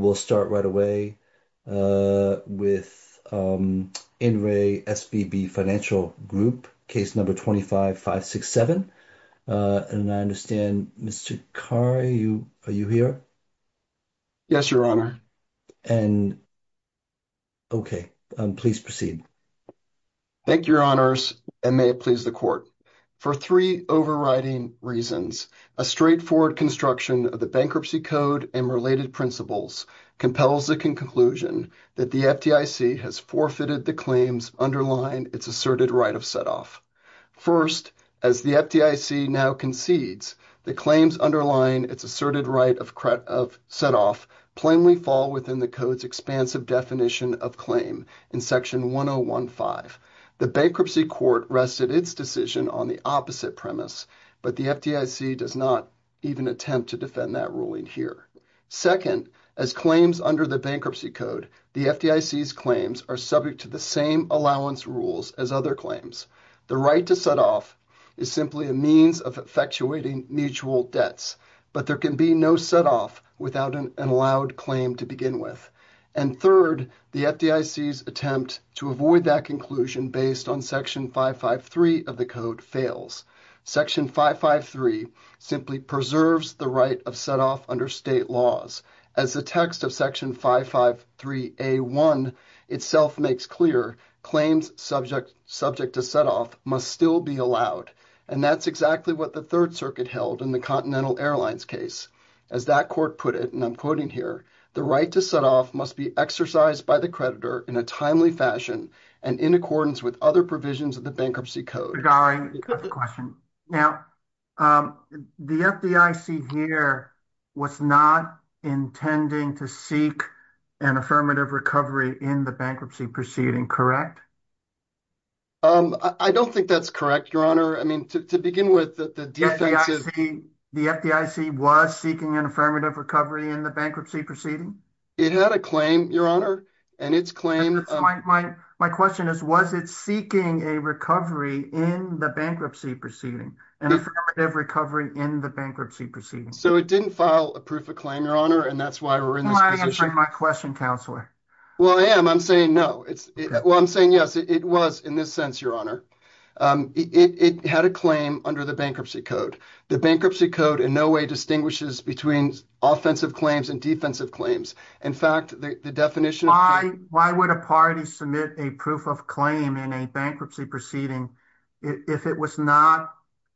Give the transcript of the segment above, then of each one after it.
And we'll start right away with In Re SVB Financial Group, case number 25567. And I understand, Mr. Carr, are you here? Yes, Your Honor. And okay, please proceed. Thank you, Your Honors, and may it please the Court. For three overriding reasons, a straightforward construction of the Bankruptcy Code and related principles compels the conclusion that the FDIC has forfeited the claims underlying its asserted right of setoff. First, as the FDIC now concedes, the claims underlying its asserted right of setoff plainly fall within the Code's expansive definition of claim in Section 1015. The Bankruptcy Court rested its decision on the opposite premise, but the FDIC does not even attempt to defend that ruling here. Second, as claims under the Bankruptcy Code, the FDIC's claims are subject to the same allowance rules as other claims. The right to setoff is simply a means of effectuating mutual debts, but there can be no setoff without an allowed claim to begin with. And third, the FDIC's attempt to avoid that conclusion based on Section 553 of the Code fails. Section 553 simply preserves the right of setoff under state laws. As the text of Section 553A1 itself makes clear, claims subject to setoff must still be allowed, and that's exactly what the Third Circuit held in the Continental Airlines case. As that court put it, and I'm quoting here, the right to setoff must be exercised by the creditor in a timely fashion and in accordance with other provisions of the Bankruptcy Code. Now, regarding the question, now, the FDIC here was not intending to seek an affirmative recovery in the bankruptcy proceeding, correct? I don't think that's correct, Your Honor. I mean, to begin with, the defense is— The FDIC was seeking an affirmative recovery in the bankruptcy proceeding? It had a claim, Your Honor, and its claim— My question is, was it seeking a recovery in the bankruptcy proceeding, an affirmative recovery in the bankruptcy proceeding? So it didn't file a proof of claim, Your Honor, and that's why we're in this position. You're not answering my question, Counselor. Well, I am. I'm saying no. Well, I'm saying yes, it was in this sense, Your Honor. It had a claim under the Bankruptcy Code. The Bankruptcy Code in no way distinguishes between offensive claims and defensive claims. In fact, the definition— Why would a party submit a proof of claim in a bankruptcy proceeding if it was not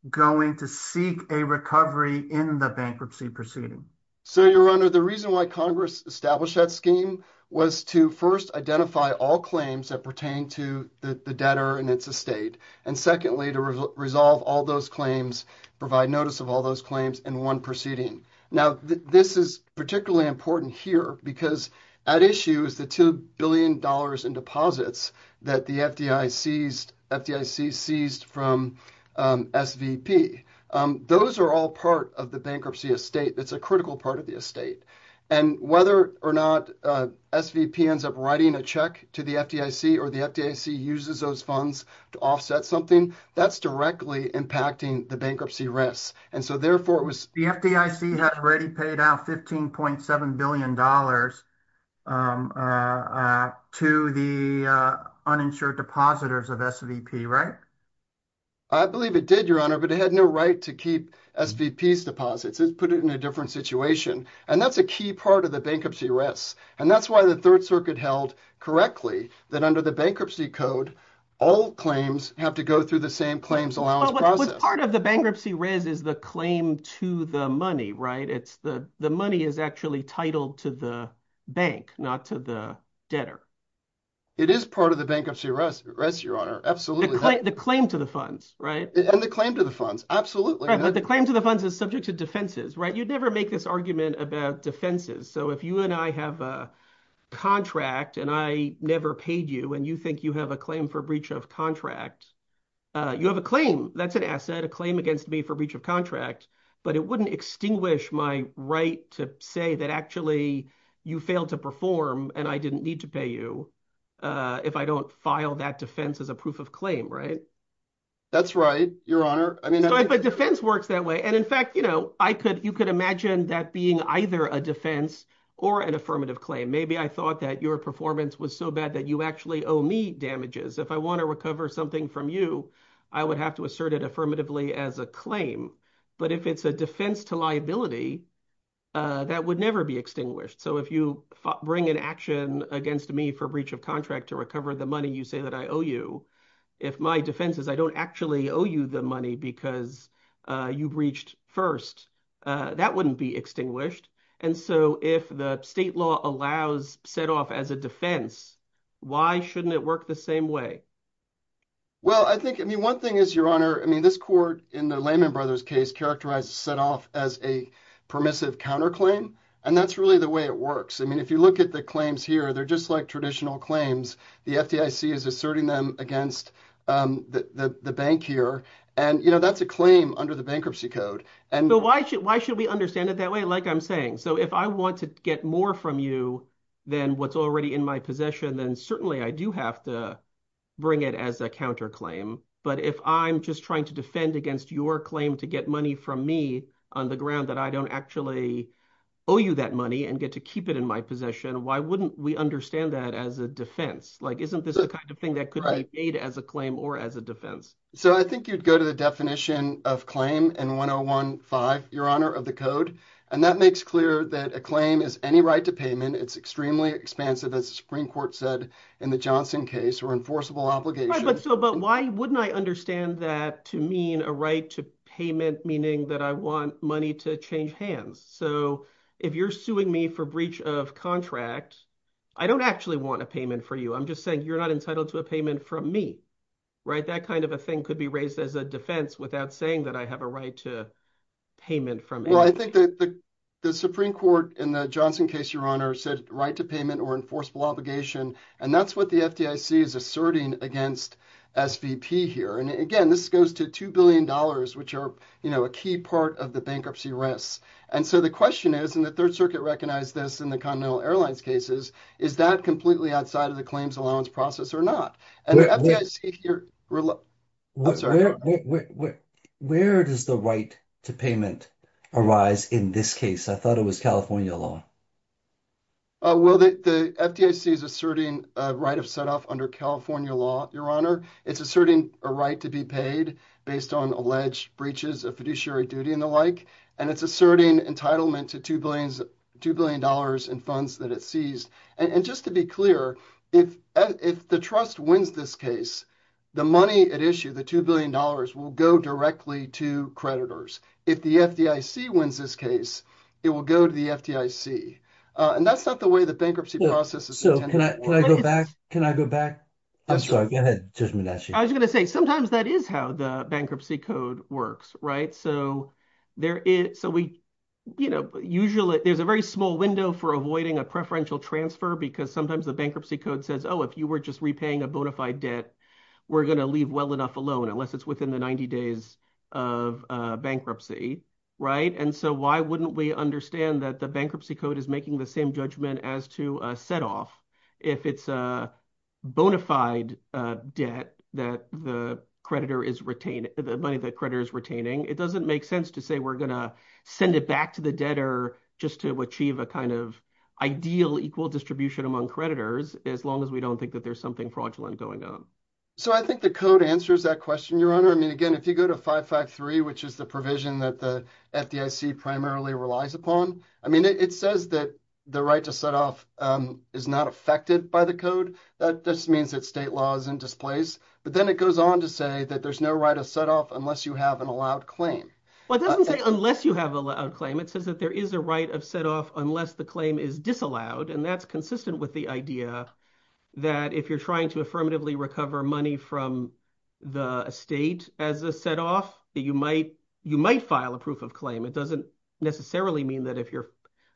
going to seek a recovery in the bankruptcy proceeding? So Your Honor, the reason why Congress established that scheme was to first identify all claims that pertain to the debtor and its estate, and secondly, to resolve all those claims, provide notice of all those claims in one proceeding. Now, this is particularly important here because at issue is the $2 billion in deposits that the FDIC seized from SVP. Those are all part of the bankruptcy estate. It's a critical part of the estate. And whether or not SVP ends up writing a check to the FDIC or the FDIC uses those funds to offset something, that's directly impacting the bankruptcy risk. And so therefore, it was— SVP had already paid out $15.7 billion to the uninsured depositors of SVP, right? I believe it did, Your Honor, but it had no right to keep SVP's deposits. It put it in a different situation. And that's a key part of the bankruptcy risk. And that's why the Third Circuit held correctly that under the Bankruptcy Code, all claims have to go through the same claims allowance process. Part of the bankruptcy risk is the claim to the money, right? The money is actually titled to the bank, not to the debtor. It is part of the bankruptcy risk, Your Honor, absolutely. The claim to the funds, right? And the claim to the funds, absolutely. Right, but the claim to the funds is subject to defenses, right? You'd never make this argument about defenses. So if you and I have a contract and I never paid you and you think you have a claim for breach of contract, you have a claim. That's an asset, a claim against me for breach of contract, but it wouldn't extinguish my right to say that actually you failed to perform and I didn't need to pay you if I don't file that defense as a proof of claim, right? That's right, Your Honor. I mean- But defense works that way. And in fact, you could imagine that being either a defense or an affirmative claim. Maybe I thought that your performance was so bad that you actually owe me damages. If I want to recover something from you, I would have to assert it affirmatively as a But if it's a defense to liability, that would never be extinguished. So if you bring an action against me for breach of contract to recover the money you say that I owe you, if my defense is I don't actually owe you the money because you breached first, that wouldn't be extinguished. And so if the state law allows set off as a defense, why shouldn't it work the same way? Well, I think, I mean, one thing is, Your Honor, I mean, this court in the Lehman Brothers case characterized set off as a permissive counterclaim. And that's really the way it works. I mean, if you look at the claims here, they're just like traditional claims. The FDIC is asserting them against the bank here. And you know, that's a claim under the bankruptcy code. But why should we understand it that way? Like I'm saying, so if I want to get more from you than what's already in my possession, then certainly I do have to bring it as a counterclaim. But if I'm just trying to defend against your claim to get money from me on the ground that I don't actually owe you that money and get to keep it in my possession, why wouldn't we understand that as a defense? Like isn't this the kind of thing that could be made as a claim or as a defense? So I think you'd go to the definition of claim in 101.5, Your Honor, of the code. And that makes clear that a claim is any right to payment. It's extremely expansive, as the Supreme Court said in the Johnson case, or enforceable obligation. Right, but so, but why wouldn't I understand that to mean a right to payment, meaning that I want money to change hands? So if you're suing me for breach of contract, I don't actually want a payment for you. I'm just saying you're not entitled to a payment from me, right? That kind of a thing could be raised as a defense without saying that I have a right to payment from you. Well, I think that the Supreme Court in the Johnson case, Your Honor, said right to payment or enforceable obligation. And that's what the FDIC is asserting against SVP here. And again, this goes to $2 billion, which are a key part of the bankruptcy risks. And so the question is, and the Third Circuit recognized this in the Continental Airlines cases, is that completely outside of the claims allowance process or not? Where does the right to payment arise in this case? I thought it was California law. Well, the FDIC is asserting a right of set off under California law, Your Honor. It's asserting a right to be paid based on alleged breaches of fiduciary duty and the like. And it's asserting entitlement to $2 billion in funds that it seized. And just to be clear, if the trust wins this case, the money at issue, the $2 billion, will go directly to creditors. If the FDIC wins this case, it will go to the FDIC. And that's not the way the bankruptcy process is intended. So can I go back? Can I go back? I'm sorry. Go ahead, Judge Mnuchin. I was going to say, sometimes that is how the bankruptcy code works, right? So there's a very small window for avoiding a preferential transfer because sometimes the bankruptcy code says, oh, if you were just repaying a bona fide debt, we're going to leave well enough alone, unless it's within the 90 days of bankruptcy, right? And so why wouldn't we understand that the bankruptcy code is making the same judgment as to a set off if it's a bona fide debt that the creditor is retaining, the money the creditor is retaining? It doesn't make sense to say we're going to send it back to the debtor just to achieve a kind of ideal equal distribution among creditors, as long as we don't think that there's something fraudulent going on. So I think the code answers that question, Your Honor. I mean, again, if you go to 553, which is the provision that the FDIC primarily relies upon, I mean, it says that the right to set off is not affected by the code. That just means that state law is in displace, but then it goes on to say that there's no right of set off unless you have an allowed claim. Well, it doesn't say unless you have an allowed claim, it says that there is a right of set off unless the claim is disallowed, and that's consistent with the idea that if you're trying to affirmatively recover money from the estate as a set off, that you might file a proof of claim. It doesn't necessarily mean that if you're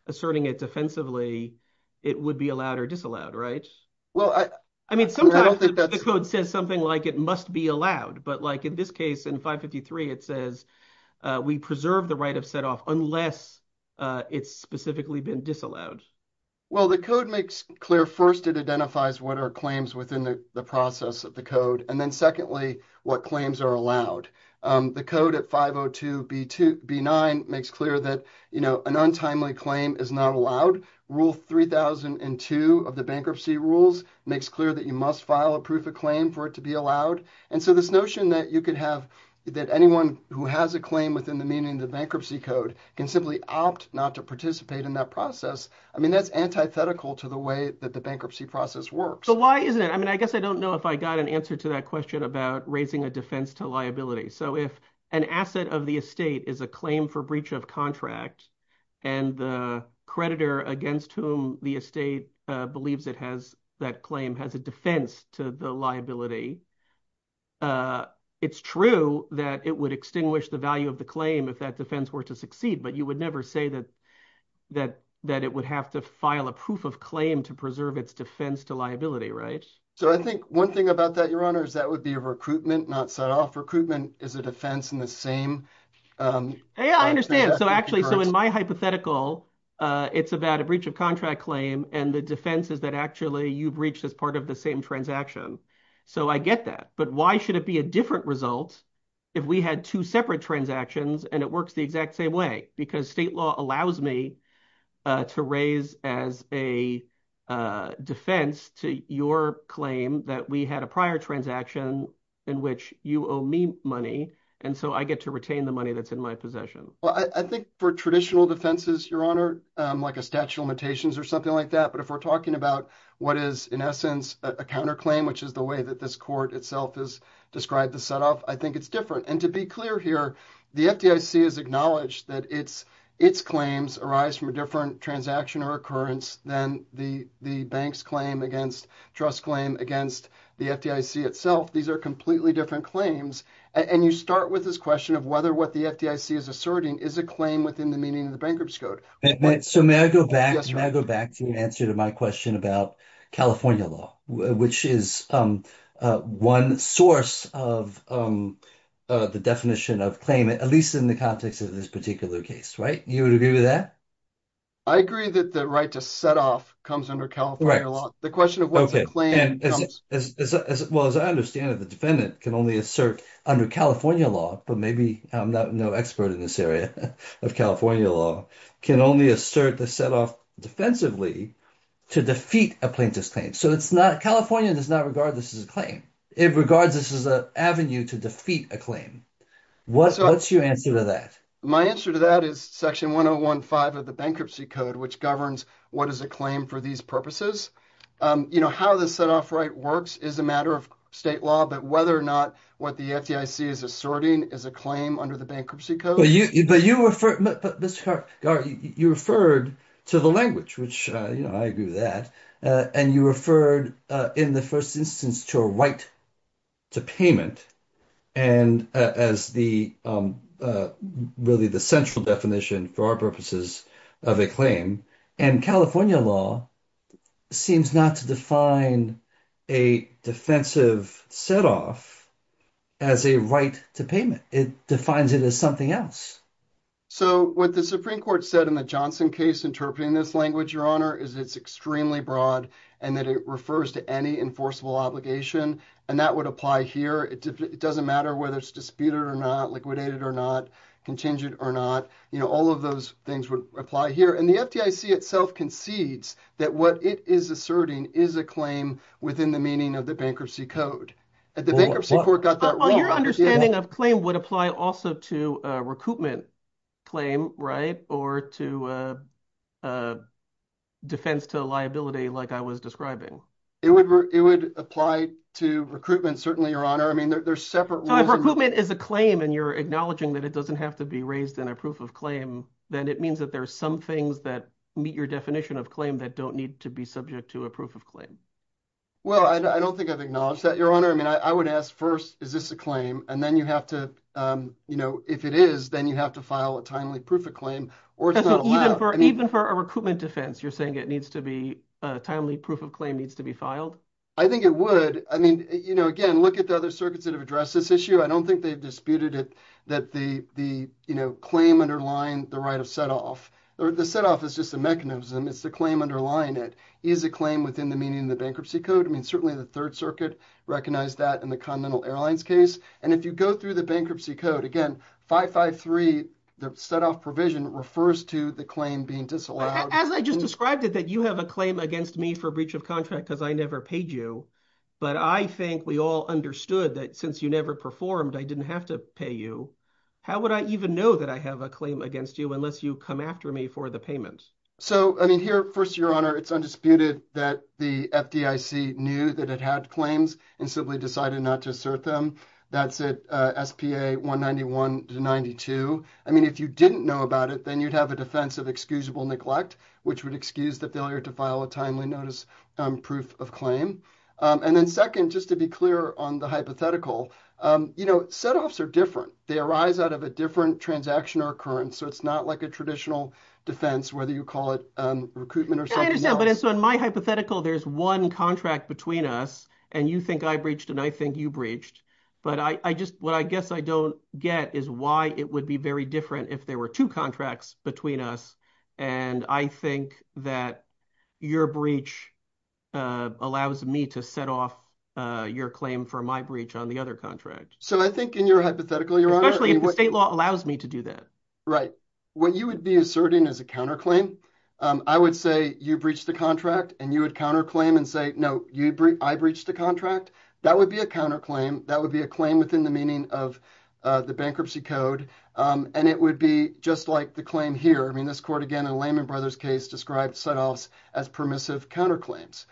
asserting it defensively, it would be allowed or disallowed, right? Well, I don't think that's- I mean, sometimes the code says something like it must be allowed, but like in this case in 553, it says we preserve the right of set off unless it's specifically been disallowed. Well, the code makes clear, first, it identifies what are claims within the process of the code, and then secondly, what claims are allowed. The code at 502 B9 makes clear that an untimely claim is not allowed. Rule 3002 of the bankruptcy rules makes clear that you must file a proof of claim for it to be allowed, and so this notion that anyone who has a claim within the meaning of the bankruptcy code can simply opt not to participate in that process, I mean, that's antithetical to the way that the bankruptcy process works. So why isn't it? I mean, I guess I don't know if I got an answer to that question about raising a defense to liability. So if an asset of the estate is a claim for breach of contract, and the creditor against whom the estate believes that claim has a defense to the liability, it's true that it would extinguish the value of the claim if that defense were to succeed, but you would never say that it would have to file a proof of claim to preserve its defense to liability, right? So I think one thing about that, Your Honor, is that would be a recruitment, not set off recruitment is a defense in the same- Yeah, I understand. So actually, so in my hypothetical, it's about a breach of contract claim, and the defense is that actually you've reached as part of the same transaction. So I get that, but why should it be a different result if we had two separate transactions and it works the exact same way? Because state law allows me to raise as a defense to your claim that we had a prior transaction in which you owe me money, and so I get to retain the money that's in my possession. Well, I think for traditional defenses, Your Honor, like a statute of limitations or something like that, but if we're talking about what is in essence a counterclaim, which is the way that this court itself has described the set off, I think it's different. And to be clear here, the FDIC has acknowledged that its claims arise from a different transaction or occurrence than the bank's claim against, trust claim against the FDIC itself. These are completely different claims. And you start with this question of whether what the FDIC is asserting is a claim within the meaning of the Bankruptcy Code. So may I go back- Yes, Your Honor. May I go back to your answer to my question about California law, which is one source of the definition of claim, at least in the context of this particular case, right? You would agree with that? I agree that the right to set off comes under California law. The question of what's a claim comes- Well, as I understand it, the defendant can only assert under California law, but maybe I'm no expert in this area of California law, can only assert the set off defensively to defeat a plaintiff's claim. So it's not, California does not regard this as a claim. It regards this as an avenue to defeat a claim. What's your answer to that? My answer to that is Section 1015 of the Bankruptcy Code, which governs what is a claim for these purposes. You know, how the set off right works is a matter of state law, but whether or not what the FDIC is asserting is a claim under the Bankruptcy Code- But you referred, Mr. Garrett, you referred to the language, which I agree with that. And you referred in the first instance to a right to payment and as the, really the central definition for our purposes of a claim. And California law seems not to define a defensive set off as a right to payment. It defines it as something else. So what the Supreme Court said in the Johnson case interpreting this language, Your Honor, is it's extremely broad and that it refers to any enforceable obligation and that would apply here. It doesn't matter whether it's disputed or not, liquidated or not, contingent or not. You know, all of those things would apply here. And the FDIC itself concedes that what it is asserting is a claim within the meaning of the Bankruptcy Code. The Bankruptcy Court got that wrong. Well, your understanding of claim would apply also to a recoupment claim, right? Or to a defense to liability, like I was describing. It would apply to recruitment, certainly, Your Honor. I mean, there's separate rules- So if recoupment is a claim and you're acknowledging that it doesn't have to be raised in a proof of claim, then it means that there's some things that meet your definition of claim that don't need to be subject to a proof of claim. Well, I don't think I've acknowledged that, Your Honor. I mean, I would ask first, is this a claim? And then you have to, you know, if it is, then you have to file a timely proof of claim or it's not allowed. So even for a recoupment defense, you're saying it needs to be, a timely proof of claim needs to be filed? I think it would. I mean, you know, again, look at the other circuits that have addressed this issue. I don't think they've disputed it, that the, you know, claim underlying the right of set-off. The set-off is just a mechanism. It's the claim underlying it. Is a claim within the meaning of the Bankruptcy Code? I mean, certainly the Third Circuit recognized that in the Continental Airlines case. And if you go through the Bankruptcy Code, again, 553, the set-off provision refers to the claim being disallowed. As I just described it, that you have a claim against me for breach of contract because I never paid you. But I think we all understood that since you never performed, I didn't have to pay you. How would I even know that I have a claim against you unless you come after me for the payment? So, I mean, here, first, Your Honor, it's undisputed that the FDIC knew that it had claims and simply decided not to assert them. That's at SPA 191 to 92. I mean, if you didn't know about it, then you'd have a defense of excusable neglect, which would excuse the failure to file a timely notice proof of claim. And then second, just to be clear on the hypothetical, you know, set-offs are different. They arise out of a different transaction or occurrence. So, it's not like a traditional defense, whether you call it recruitment or something else. I understand, but so in my hypothetical, there's one contract between us and you think I breached and I think you breached. But what I guess I don't get is why it would be very different if there were two contracts between us. And I think that your breach allows me to set off your claim for my breach on the other contract. So, I think in your hypothetical, Your Honor- Especially if the state law allows me to do that. Right. What you would be asserting as a counterclaim, I would say you breached the contract and you would counterclaim and say, no, I breached the contract. That would be a counterclaim. That would be a claim within the meaning of the bankruptcy code. And it would be just like the claim here. I mean, this court, again, in the Lehman Brothers case, described set-offs as permissive counterclaims.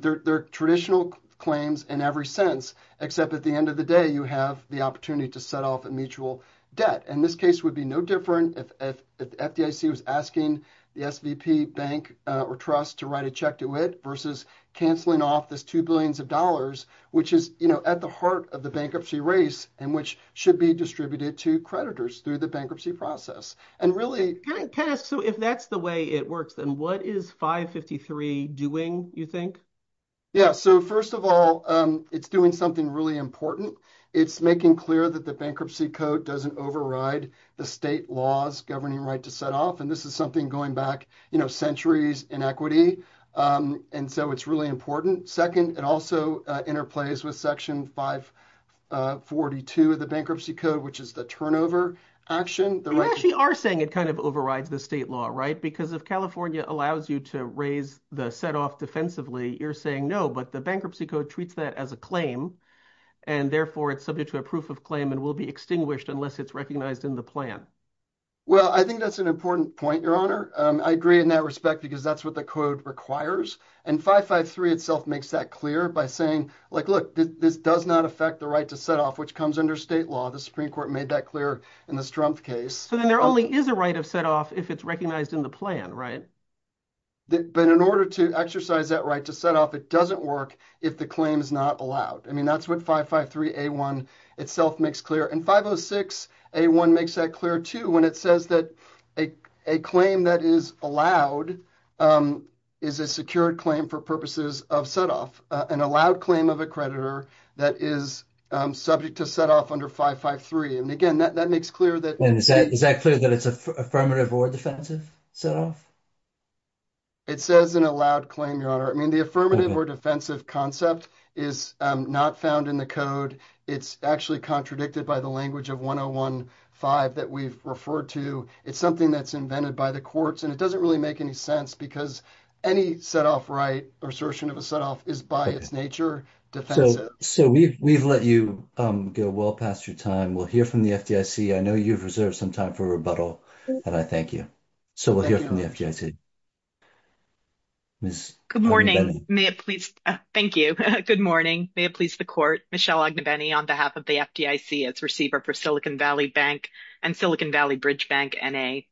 They're traditional claims in every sense, except at the end of the day, you have the opportunity to set off a mutual debt. And this case would be no different if the FDIC was asking the SVP bank or trust to write a check to it versus canceling off this two billions of dollars, which is at the heart of the bankruptcy race and which should be distributed to creditors through the bankruptcy process. And really- Can I ask, so if that's the way it works, then what is 553 doing, you think? Yeah. So, first of all, it's doing something really important. It's making clear that the bankruptcy code doesn't override the state laws governing right to set off. And this is something going back centuries in equity. And so it's really important. Second, it also interplays with section 542 of the bankruptcy code, which is the turnover action. You actually are saying it kind of overrides the state law, right? Because if California allows you to raise the set-off defensively, you're saying no, but the bankruptcy code treats that as a claim. And therefore, it's subject to a proof of claim and will be extinguished unless it's recognized in the plan. Well, I think that's an important point, your honor. I agree in that respect because that's what the code requires. And 553 itself makes that clear by saying, like, look, this does not affect the right to set off, which comes under state law. The Supreme Court made that clear in the Strumpf case. So then there only is a right of set off if it's recognized in the plan, right? But in order to exercise that right to set off, it doesn't work if the claim is not allowed. I mean, that's what 553A1 itself makes clear. And 506A1 makes that clear, too, when it says that a claim that is allowed is a secured claim for purposes of set off, an allowed claim of a creditor that is subject to set off under 553. And again, that makes clear that- And is that clear that it's an affirmative or defensive set off? It says an allowed claim, your honor. I mean, the affirmative or defensive concept is not found in the code. It's actually contradicted by the language of 101.5 that we've referred to. It's something that's invented by the courts, and it doesn't really make any sense because any set off right or assertion of a set off is by its nature defensive. So we've let you go well past your time. We'll hear from the FDIC. I know you've reserved some time for rebuttal, and I thank you. So we'll hear from the FDIC. Ms. Agnibeni. Good morning. May it please- Thank you. Good morning. May it please the court, Michelle Agnibeni on behalf of the FDIC as receiver for Silicon Valley Bank and Silicon Valley Bridge Bank, N.A.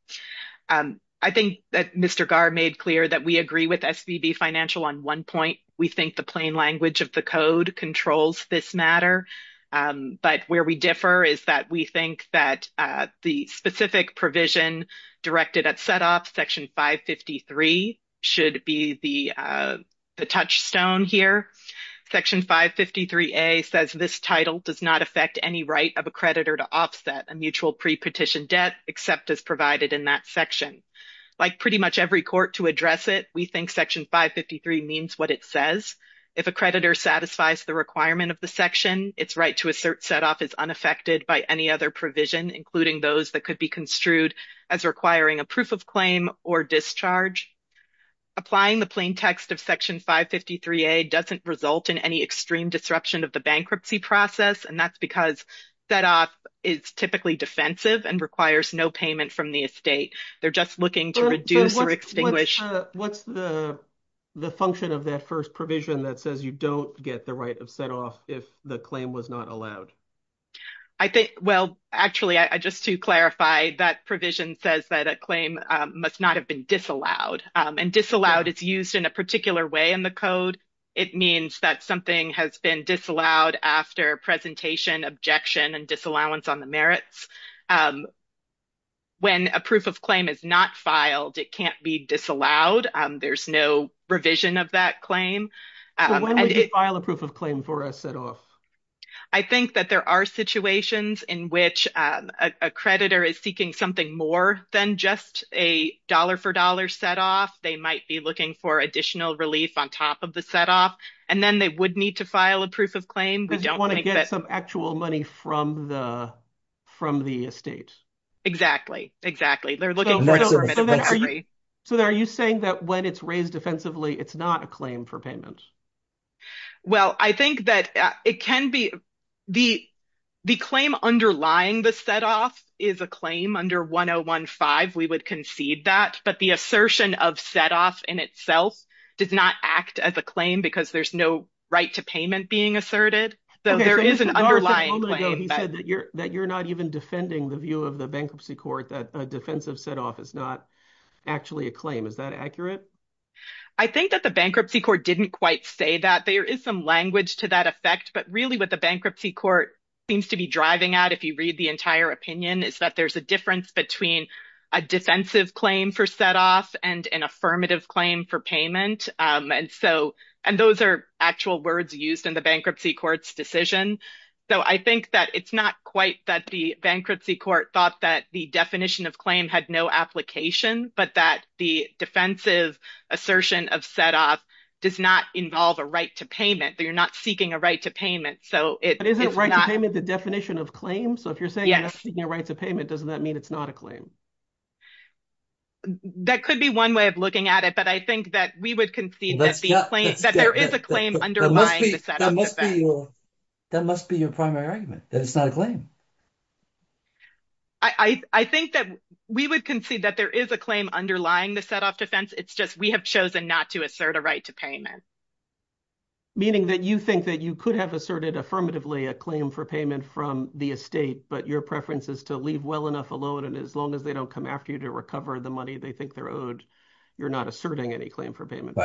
I think that Mr. Garr made clear that we agree with SBB Financial on one point. We think the plain language of the code controls this matter. But where we differ is that we think that the specific provision directed at set off, Section 553, should be the touchstone here. Section 553A says this title does not affect any right of a creditor to offset a mutual pre-petition debt except as provided in that section. Like pretty much every court to address it, we think Section 553 means what it says. If a creditor satisfies the requirement of the section, its right to assert set off is unaffected by any other provision, including those that could be construed as requiring a proof of claim or discharge. Applying the plain text of Section 553A doesn't result in any extreme disruption of the bankruptcy process and that's because set off is typically defensive and requires no payment from the estate. They're just looking to reduce or extinguish- What's the function of that first provision that says you don't get the right of set off if the claim was not allowed? I think, well, actually, just to clarify, that provision says that a claim must not have been disallowed. And disallowed is used in a particular way in the code. It means that something has been disallowed after presentation, objection, and disallowance on the merits. When a proof of claim is not filed, it can't be disallowed. There's no revision of that claim. So when would you file a proof of claim for a set off? I think that there are situations in which a creditor is seeking something more than just a dollar for dollar set off. They might be looking for additional relief on top of the set off. And then they would need to file a proof of claim. We don't think that- Because you want to get some actual money from the estate. Exactly. Exactly. They're looking for- So are you saying that when it's raised defensively, it's not a claim for payment? Well, I think that it can be- the claim underlying the set off is a claim under 1015. We would concede that. But the assertion of set off in itself does not act as a claim because there's no right to payment being asserted. So there is an underlying claim. Okay. So you said a moment ago that you're not even defending the view of the bankruptcy court that a defensive set off is not actually a claim. Is that accurate? I think that the bankruptcy court didn't quite say that. There is some language to that effect, but really what the bankruptcy court seems to be driving at, if you read the entire opinion, is that there's a difference between a defensive claim for set off and an affirmative claim for payment. And those are actual words used in the bankruptcy court's decision. So I think that it's not quite that the bankruptcy court thought that the definition of claim had no application, but that the defensive assertion of set off does not involve a right to payment. That you're not seeking a right to payment. So it's not- But isn't right to payment the definition of claim? So if you're saying you're not seeking a right to payment, doesn't that mean it's not a claim? That could be one way of looking at it. But I think that we would concede that there is a claim underlying the set off effect. That must be your primary argument, that it's not a claim. I think that we would concede that there is a claim underlying the set off defense. It's just we have chosen not to assert a right to payment. Meaning that you think that you could have asserted affirmatively a claim for payment from the estate, but your preference is to leave well enough alone. And as long as they don't come after you to recover the money they think they're owed, you're not asserting any claim for payment.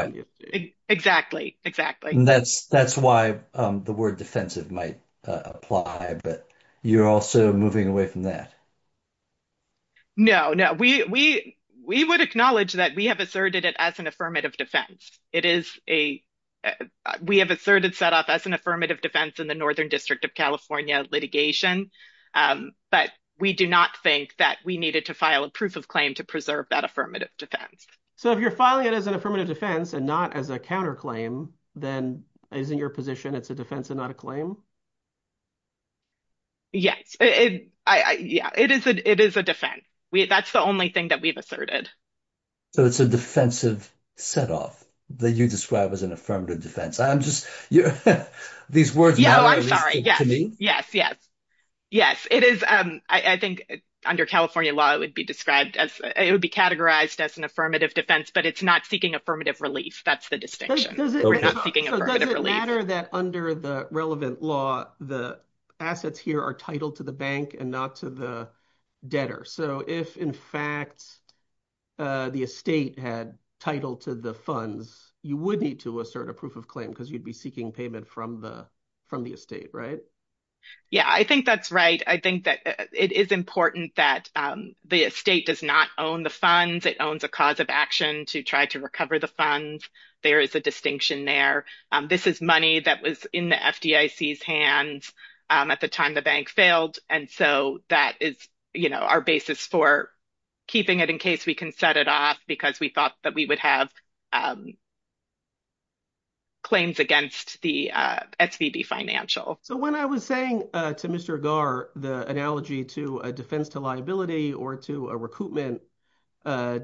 Exactly. Exactly. And that's why the word defensive might apply, but you're also moving away from that. No, no. We would acknowledge that we have asserted it as an affirmative defense. It is a- We have asserted set off as an affirmative defense in the Northern District of California litigation. But we do not think that we needed to file a proof of claim to preserve that affirmative defense. So if you're filing it as an affirmative defense and not as a counterclaim, then isn't your position it's a defense and not a claim? Yes. Yeah, it is a defense. That's the only thing that we've asserted. So it's a defensive set off that you describe as an affirmative defense. I'm just- These words- No, I'm sorry. Yes. Yes. Yes. Yes. It is. I think under California law, it would be described as- It would be categorized as an affirmative defense, but it's not seeking affirmative relief. That's the distinction. We're not seeking affirmative relief. Does it matter that under the relevant law, the assets here are titled to the bank and not to the debtor? So if in fact the estate had title to the funds, you would need to assert a proof of claim because you'd be seeking payment from the estate, right? Yeah. I think that's right. I think that it is important that the estate does not own the funds. It owns a cause of action to try to recover the funds. There is a distinction there. This is money that was in the FDIC's hands at the time the bank failed. And so that is our basis for keeping it in case we can set it off because we thought that we would have claims against the SVB Financial. So when I was saying to Mr. Gar, the analogy to a defense to liability or to a recoupment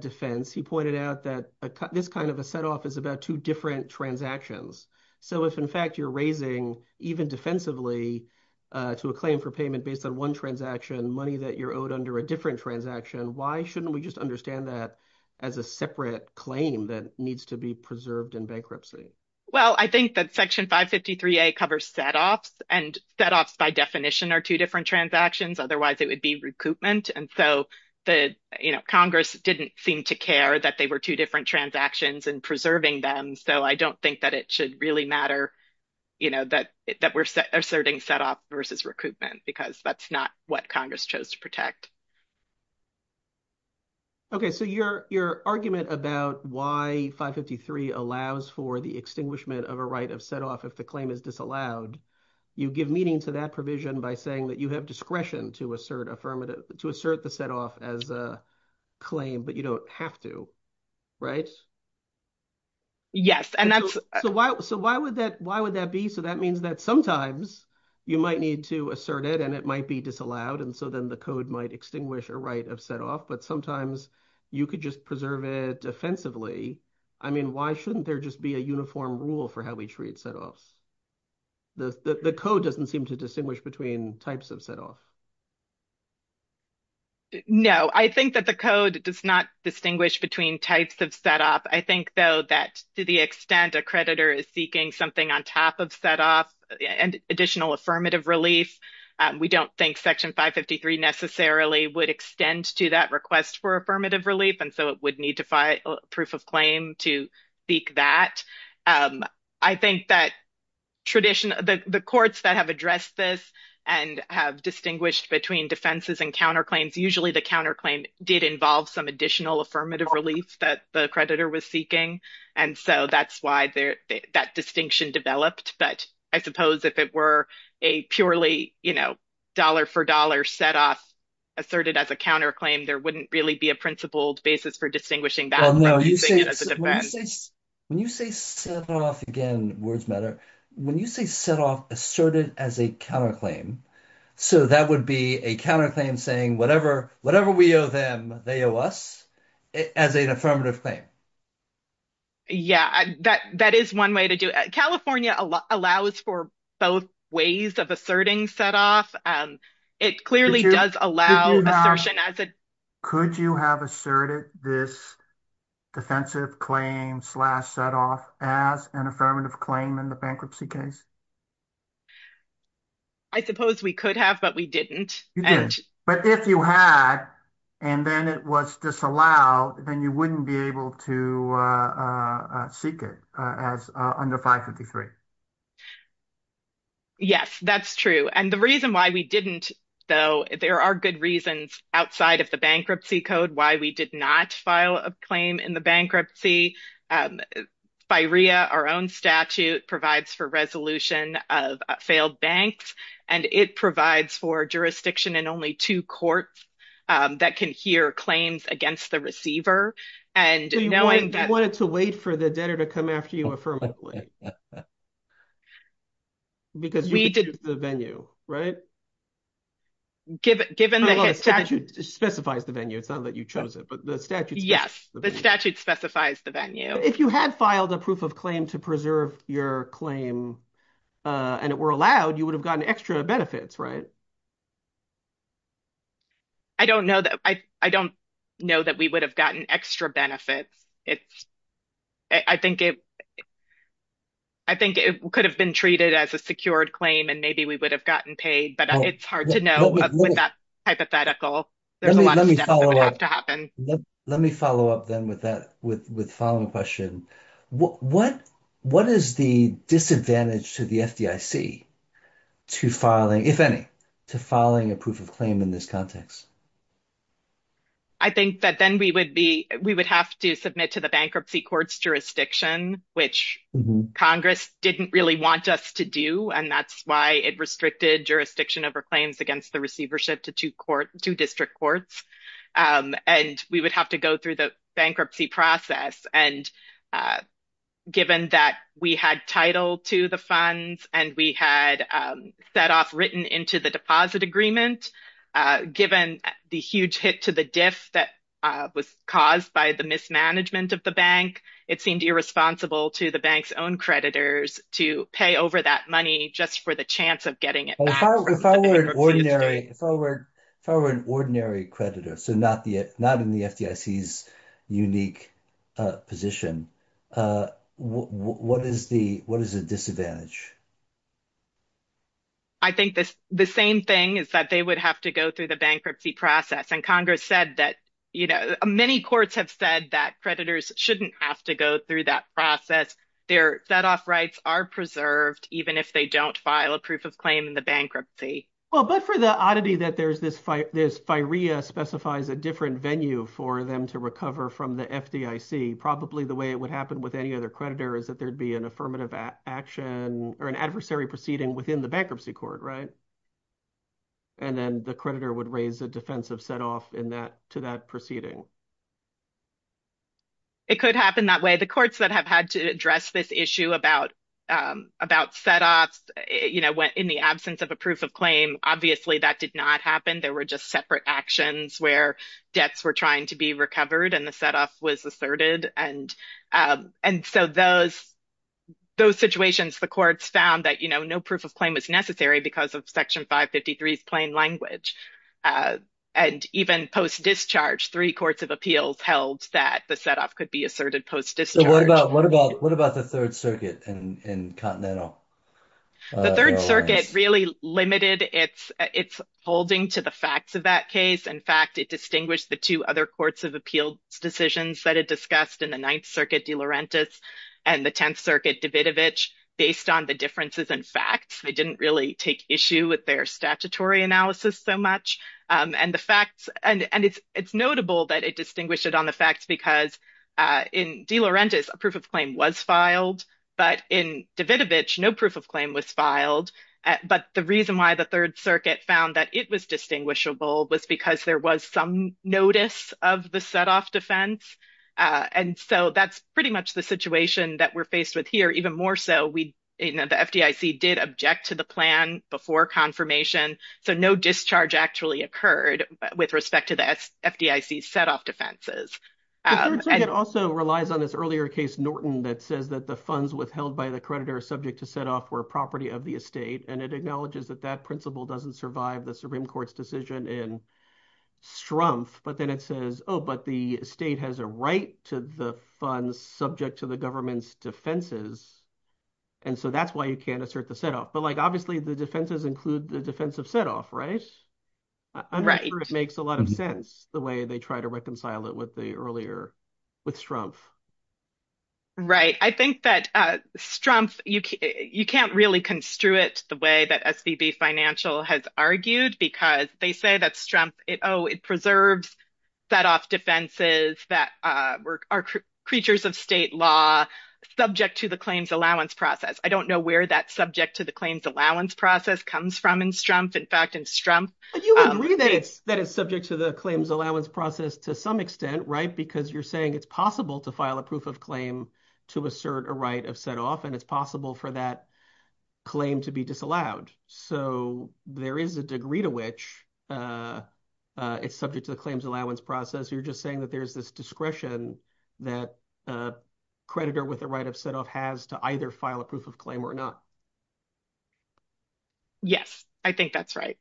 defense, he pointed out that this kind of a set off is about two different transactions. So if in fact you're raising even defensively to a claim for payment based on one transaction, money that you're owed under a different transaction, why shouldn't we just understand that as a separate claim that needs to be preserved in bankruptcy? Well, I think that Section 553A covers set offs, and set offs by definition are two different transactions. Otherwise, it would be recoupment. And so Congress didn't seem to care that they were two different transactions and preserving them, so I don't think that it should really matter that we're asserting set off versus recoupment because that's not what Congress chose to protect. Okay. So your argument about why 553 allows for the extinguishment of a right of set off if the claim is disallowed, you give meaning to that provision by saying that you have discretion to assert the set off as a claim, but you don't have to, right? Yes. So why would that be? So that means that sometimes you might need to assert it, and it might be disallowed, and so then the code might extinguish a right of set off, but sometimes you could just preserve it offensively. I mean, why shouldn't there just be a uniform rule for how we treat set offs? The code doesn't seem to distinguish between types of set off. No, I think that the code does not distinguish between types of set off. I think, though, that to the extent a creditor is seeking something on top of set off and additional affirmative relief, we don't think Section 553 necessarily would extend to that request for affirmative relief, and so it would need to file a proof of claim to seek that. I think that the courts that have addressed this and have distinguished between defenses and counterclaims, usually the counterclaim did involve some additional affirmative relief that the creditor was seeking, and so that's why that distinction developed. But I suppose if it were a purely dollar-for-dollar set off asserted as a counterclaim, there wouldn't really be a principled basis for distinguishing that or using it as a defense. When you say set off, again, words matter. When you say set off asserted as a counterclaim, so that would be a counterclaim saying whatever we owe them, they owe us as an affirmative claim? Yeah, that is one way to do it. California allows for both ways of asserting set off. It clearly does allow assertion as a… Could you have asserted this defensive claim slash set off as an affirmative claim in the bankruptcy case? I suppose we could have, but we didn't. But if you had, and then it was disallowed, then you wouldn't be able to seek it as under 553. Yes, that's true. And the reason why we didn't, though, there are good reasons outside of the bankruptcy code why we did not file a claim in the bankruptcy. By RIA, our own statute provides for resolution of failed banks, and it provides for jurisdiction in only two courts that can hear claims against the receiver. And knowing that… You wanted to wait for the debtor to come after you affirmatively because you could choose the venue, right? Given the… Well, the statute specifies the venue. It's not that you chose it, but the statute specifies the venue. If you had filed a proof of claim to preserve your claim and it were allowed, you would have gotten extra benefits, right? I don't know that we would have gotten extra benefits. I think it could have been treated as a secured claim and maybe we would have gotten paid, but it's hard to know with that hypothetical. There's a lot of stuff that would have to happen. Let me follow up then with the following question. What is the disadvantage to the FDIC to filing, if any, to filing a proof of claim in this context? I think that then we would have to submit to the bankruptcy court's jurisdiction, which Congress didn't really want us to do, and that's why it restricted jurisdiction over claims against the receivership to two district courts. And we would have to go through the bankruptcy process. And given that we had title to the funds and we had set off written into the deposit agreement, given the huge hit to the diff that was caused by the mismanagement of the bank, it seemed irresponsible to the bank's own creditors to pay over that money just for the chance of getting it back. If I were an ordinary creditor, so not in the FDIC's unique position, what is the disadvantage? I think the same thing is that they would have to go through the bankruptcy process. And Congress said that, you know, many courts have said that creditors shouldn't have to go through that process. Their set off rights are preserved even if they don't file a proof of claim in the bankruptcy. Well, but for the oddity that there's this fight, this firea specifies a different venue for them to recover from the FDIC. Probably the way it would happen with any other creditor is that there'd be an affirmative action or an adversary proceeding within the bankruptcy court. Right. And then the creditor would raise a defensive set off in that to that proceeding. It could happen that way. The courts that have had to address this issue about about set offs, you know, went in the absence of a proof of claim. Obviously, that did not happen. There were just separate actions where debts were trying to be recovered and the set off was asserted. And and so those those situations, the courts found that, you know, proof of claim was necessary because of Section 553 is plain language. And even post-discharge, three courts of appeals held that the set off could be asserted post-discharge. What about what about what about the Third Circuit in Continental? The Third Circuit really limited its its holding to the facts of that case. In fact, it distinguished the two other courts of appeals decisions that it discussed in the Ninth Circuit, De Laurentiis and the Tenth Circuit, Davidovich, based on the differences in facts. They didn't really take issue with their statutory analysis so much. And the facts and it's it's notable that it distinguished it on the facts because in De Laurentiis, a proof of claim was filed, but in Davidovich, no proof of claim was filed. But the reason why the Third Circuit found that it was distinguishable was because there was some notice of the set off defense. And so that's pretty much the situation that we're faced with here. Even more so, we know the FDIC did object to the plan before confirmation. So no discharge actually occurred with respect to the FDIC set off defenses. It also relies on this earlier case, Norton, that says that the funds withheld by the creditor are subject to set off for a property of the estate. And it acknowledges that that principle doesn't survive the Supreme Court's decision in Strumpf. But then it says, oh, but the state has a right to the funds subject to the government's defenses. And so that's why you can't assert the set off. But like, obviously, the defenses include the defensive set off. Right. Right. It makes a lot of sense the way they try to reconcile it with the earlier with Strumpf. Right. I think that Strumpf, you can't really construe it the way that SBB Financial has argued because they say that Strumpf, oh, it preserves set off defenses that are creatures of state law subject to the claims allowance process. I don't know where that subject to the claims allowance process comes from in Strumpf. In fact, in Strumpf. You agree that it's that it's subject to the claims allowance process to some extent. Right. Because you're saying it's possible to file a proof of claim to assert a right of set off and it's possible for that claim to be disallowed. So there is a degree to which it's subject to the claims allowance process. You're just saying that there's this discretion that a creditor with the right of set off has to either file a proof of claim or not. Yes, I think that's right.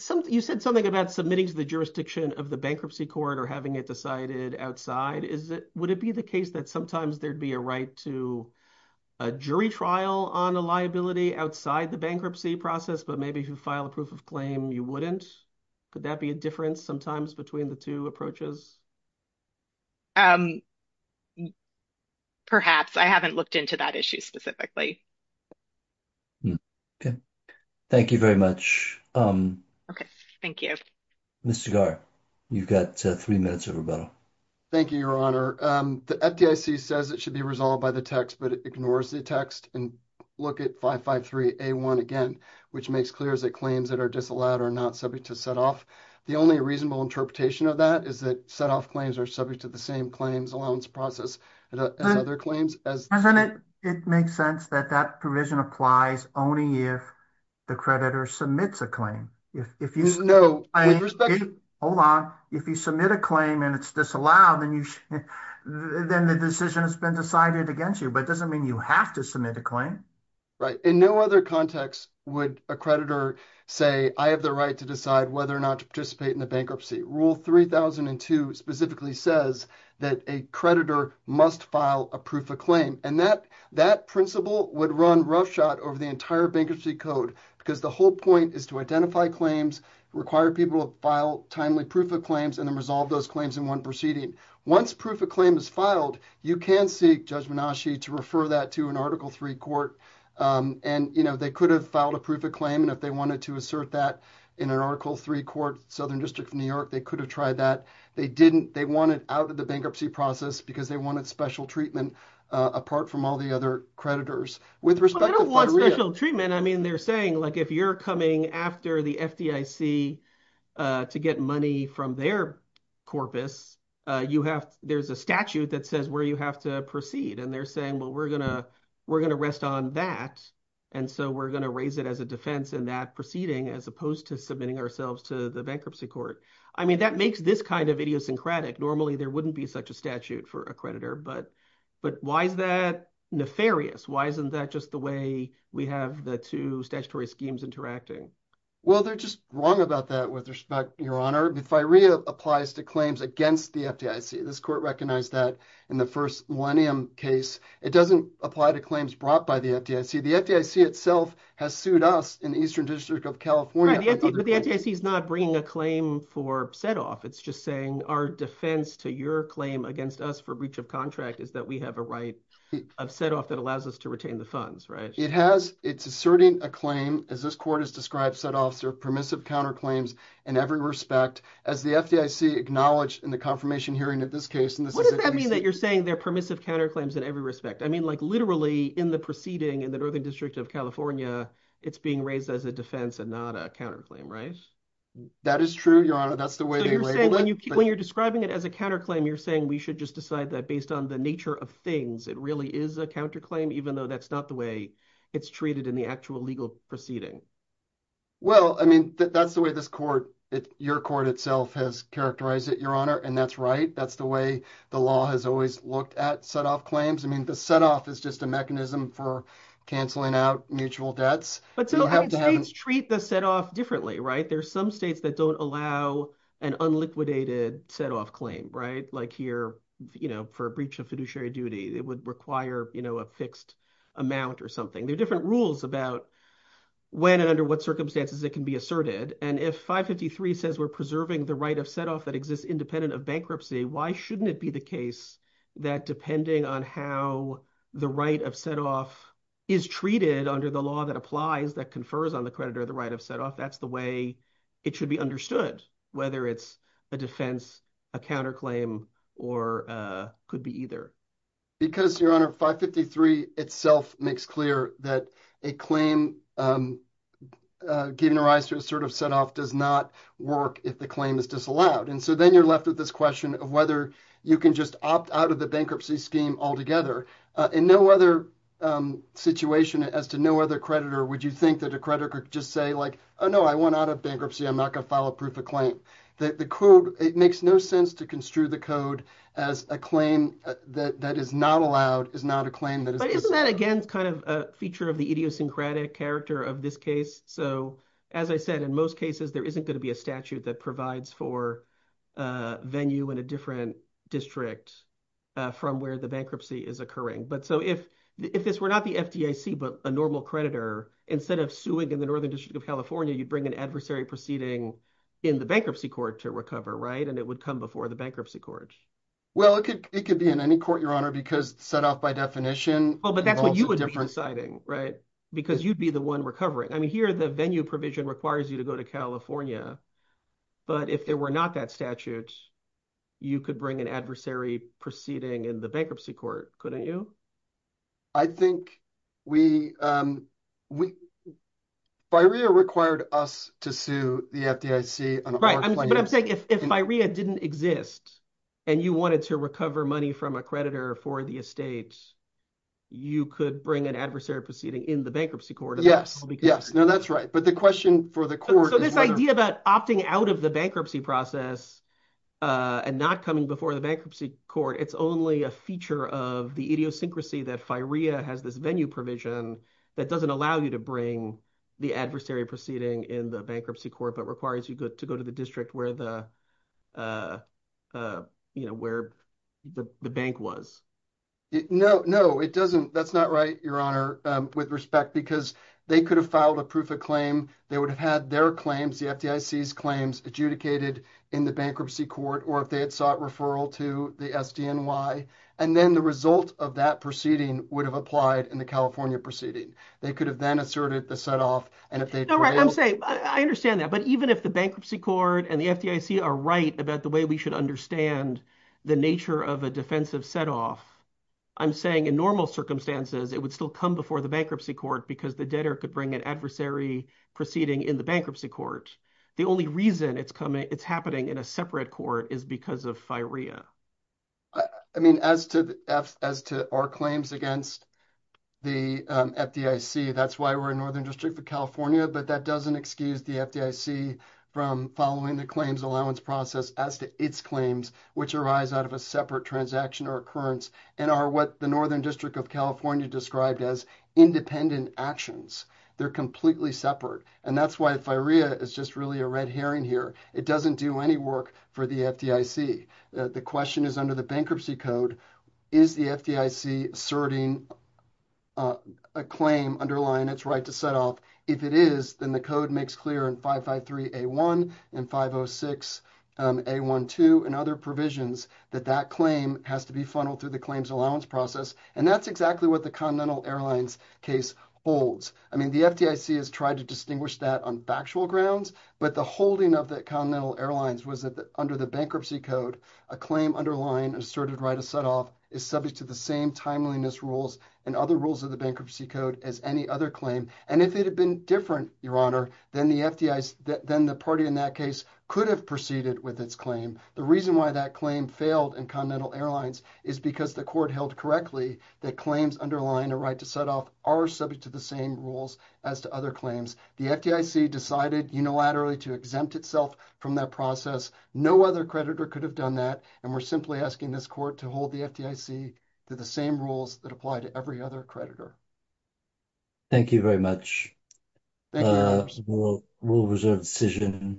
So you said something about submitting to the jurisdiction of the bankruptcy court or having it decided outside. Is it would it be the case that sometimes there'd be a right to a jury trial on a liability outside the bankruptcy process? But maybe if you file a proof of claim, you wouldn't. Could that be a difference sometimes between the two approaches? Perhaps I haven't looked into that issue specifically. Thank you very much. Thank you. Mr. Gar, you've got three minutes of rebuttal. Thank you, Your Honor. The FDIC says it should be resolved by the text, but it ignores the text. And look at 553A1 again, which makes clear that claims that are disallowed are not subject to set off. The only reasonable interpretation of that is that set off claims are subject to the same claims allowance process as other claims. President, it makes sense that that provision applies only if the creditor submits a claim. No. Hold on. If you submit a claim and it's disallowed, then the decision has been decided against you. But it doesn't mean you have to submit a claim. Right. In no other context would a creditor say, I have the right to decide whether or not to participate in a bankruptcy. Rule 3002 specifically says that a creditor must file a proof of claim. And that principle would run roughshod over the entire bankruptcy code because the whole point is to identify claims, require people to file timely proof of claims, and then resolve those claims in one proceeding. Once proof of claim is filed, you can seek Judge Menashe to refer that to an Article III court. And, you know, they could have filed a proof of claim. And if they wanted to assert that in an Article III court, Southern District of New York, they could have tried that. They didn't. They wanted out of the bankruptcy process because they wanted special treatment apart from all the other creditors. Well, they don't want special treatment. I mean, they're saying, like, if you're coming after the FDIC to get money from their corpus, there's a statute that says where you have to proceed. And they're saying, well, we're going to rest on that. And so we're going to raise it as a defense in that proceeding as opposed to submitting ourselves to the bankruptcy court. I mean, that makes this kind of idiosyncratic. Normally, there wouldn't be such a statute for a creditor. But why is that nefarious? Why isn't that just the way we have the two statutory schemes interacting? Well, they're just wrong about that with respect, Your Honor. If FIREA applies to claims against the FDIC, this court recognized that in the first Millennium case. It doesn't apply to claims brought by the FDIC. The FDIC itself has sued us in the Eastern District of California. But the FDIC is not bringing a claim for setoff. It's just saying our defense to your claim against us for breach of contract is that we have a right of setoff that allows us to retain the funds, right? It has. It's asserting a claim. As this court has described, setoffs are permissive counterclaims in every respect. As the FDIC acknowledged in the confirmation hearing in this case. What does that mean that you're saying they're permissive counterclaims in every respect? I mean, like literally in the proceeding in the Northern District of California, it's being raised as a defense and not a counterclaim, right? That is true, Your Honor. That's the way they label it. When you're describing it as a counterclaim, you're saying we should just decide that based on the nature of things, it really is a counterclaim, even though that's not the way it's treated in the actual legal proceeding. Well, I mean, that's the way this court, your court itself, has characterized it, Your Honor. And that's right. That's the way the law has always looked at setoff claims. I mean, the setoff is just a mechanism for canceling out mutual debts. But states treat the setoff differently, right? There are some states that don't allow an unliquidated setoff claim, right? Like here, you know, for a breach of fiduciary duty, it would require, you know, a fixed amount or something. There are different rules about when and under what circumstances it can be asserted. And if 553 says we're preserving the right of setoff that exists independent of bankruptcy, why shouldn't it be the case that depending on how the right of setoff is treated under the law that applies, that confers on the creditor the right of setoff, that's the way it should be understood, whether it's a defense, a counterclaim, or could be either? Because, Your Honor, 553 itself makes clear that a claim given a right to assert a setoff does not work if the claim is disallowed. And so then you're left with this question of whether you can just opt out of the bankruptcy scheme altogether. In no other situation as to no other creditor would you think that a creditor could just say, like, oh, no, I want out of bankruptcy. I'm not going to file a proof of claim. It makes no sense to construe the code as a claim that is not allowed, is not a claim that is disallowed. But isn't that, again, kind of a feature of the idiosyncratic character of this case? So as I said, in most cases there isn't going to be a statute that provides for venue in a different district from where the bankruptcy is occurring. But so if this were not the FDIC but a normal creditor, instead of suing in the Northern District of California, you'd bring an adversary proceeding in the bankruptcy court to recover, right? And it would come before the bankruptcy court. Well, it could be in any court, Your Honor, because setoff by definition involves a different- Well, but that's what you would be deciding, right? Because you'd be the one recovering. I mean, here the venue provision requires you to go to California. But if there were not that statute, you could bring an adversary proceeding in the bankruptcy court, couldn't you? I think we – FIREA required us to sue the FDIC on our claim. Right, but I'm saying if FIREA didn't exist and you wanted to recover money from a creditor for the estate, you could bring an adversary proceeding in the bankruptcy court. Yes, yes. No, that's right. But the question for the court is whether- So this idea about opting out of the bankruptcy process and not coming before the bankruptcy court, it's only a feature of the idiosyncrasy that FIREA has this venue provision that doesn't allow you to bring the adversary proceeding in the bankruptcy court but requires you to go to the district where the bank was. No, no. It doesn't – that's not right, Your Honor, with respect because they could have filed a proof of claim. They would have had their claims, the FDIC's claims adjudicated in the bankruptcy court or if they had sought referral to the SDNY. And then the result of that proceeding would have applied in the California proceeding. They could have then asserted the set-off and if they- I understand that. But even if the bankruptcy court and the FDIC are right about the way we should understand the nature of a defensive set-off, I'm saying in normal circumstances, it would still come before the bankruptcy court because the debtor could bring an adversary proceeding in the bankruptcy court. The only reason it's happening in a separate court is because of FIREA. I mean, as to our claims against the FDIC, that's why we're in Northern District of California. But that doesn't excuse the FDIC from following the claims allowance process as to its claims which arise out of a separate transaction or occurrence and are what the Northern District of California described as independent actions. They're completely separate. And that's why FIREA is just really a red herring here. It doesn't do any work for the FDIC. The question is under the bankruptcy code, is the FDIC asserting a claim underlying its right to set-off? If it is, then the code makes clear in 553A1 and 506A12 and other provisions that that claim has to be funneled through the claims allowance process. And that's exactly what the Continental Airlines case holds. I mean, the FDIC has tried to distinguish that on factual grounds, but the holding of the Continental Airlines was that under the bankruptcy code, a claim underlying asserted right to set-off is subject to the same timeliness rules and other rules of the bankruptcy code as any other claim. And if it had been different, Your Honor, then the party in that case could have proceeded with its claim. The reason why that claim failed in Continental Airlines is because the court held correctly that claims underlying a right to set-off are subject to the same rules as to other claims. The FDIC decided unilaterally to exempt itself from that process. No other creditor could have done that. And we're simply asking this court to hold the FDIC to the same rules that apply to every other creditor. Thank you very much. Thank you, Your Honor. Thank you, Your Honor.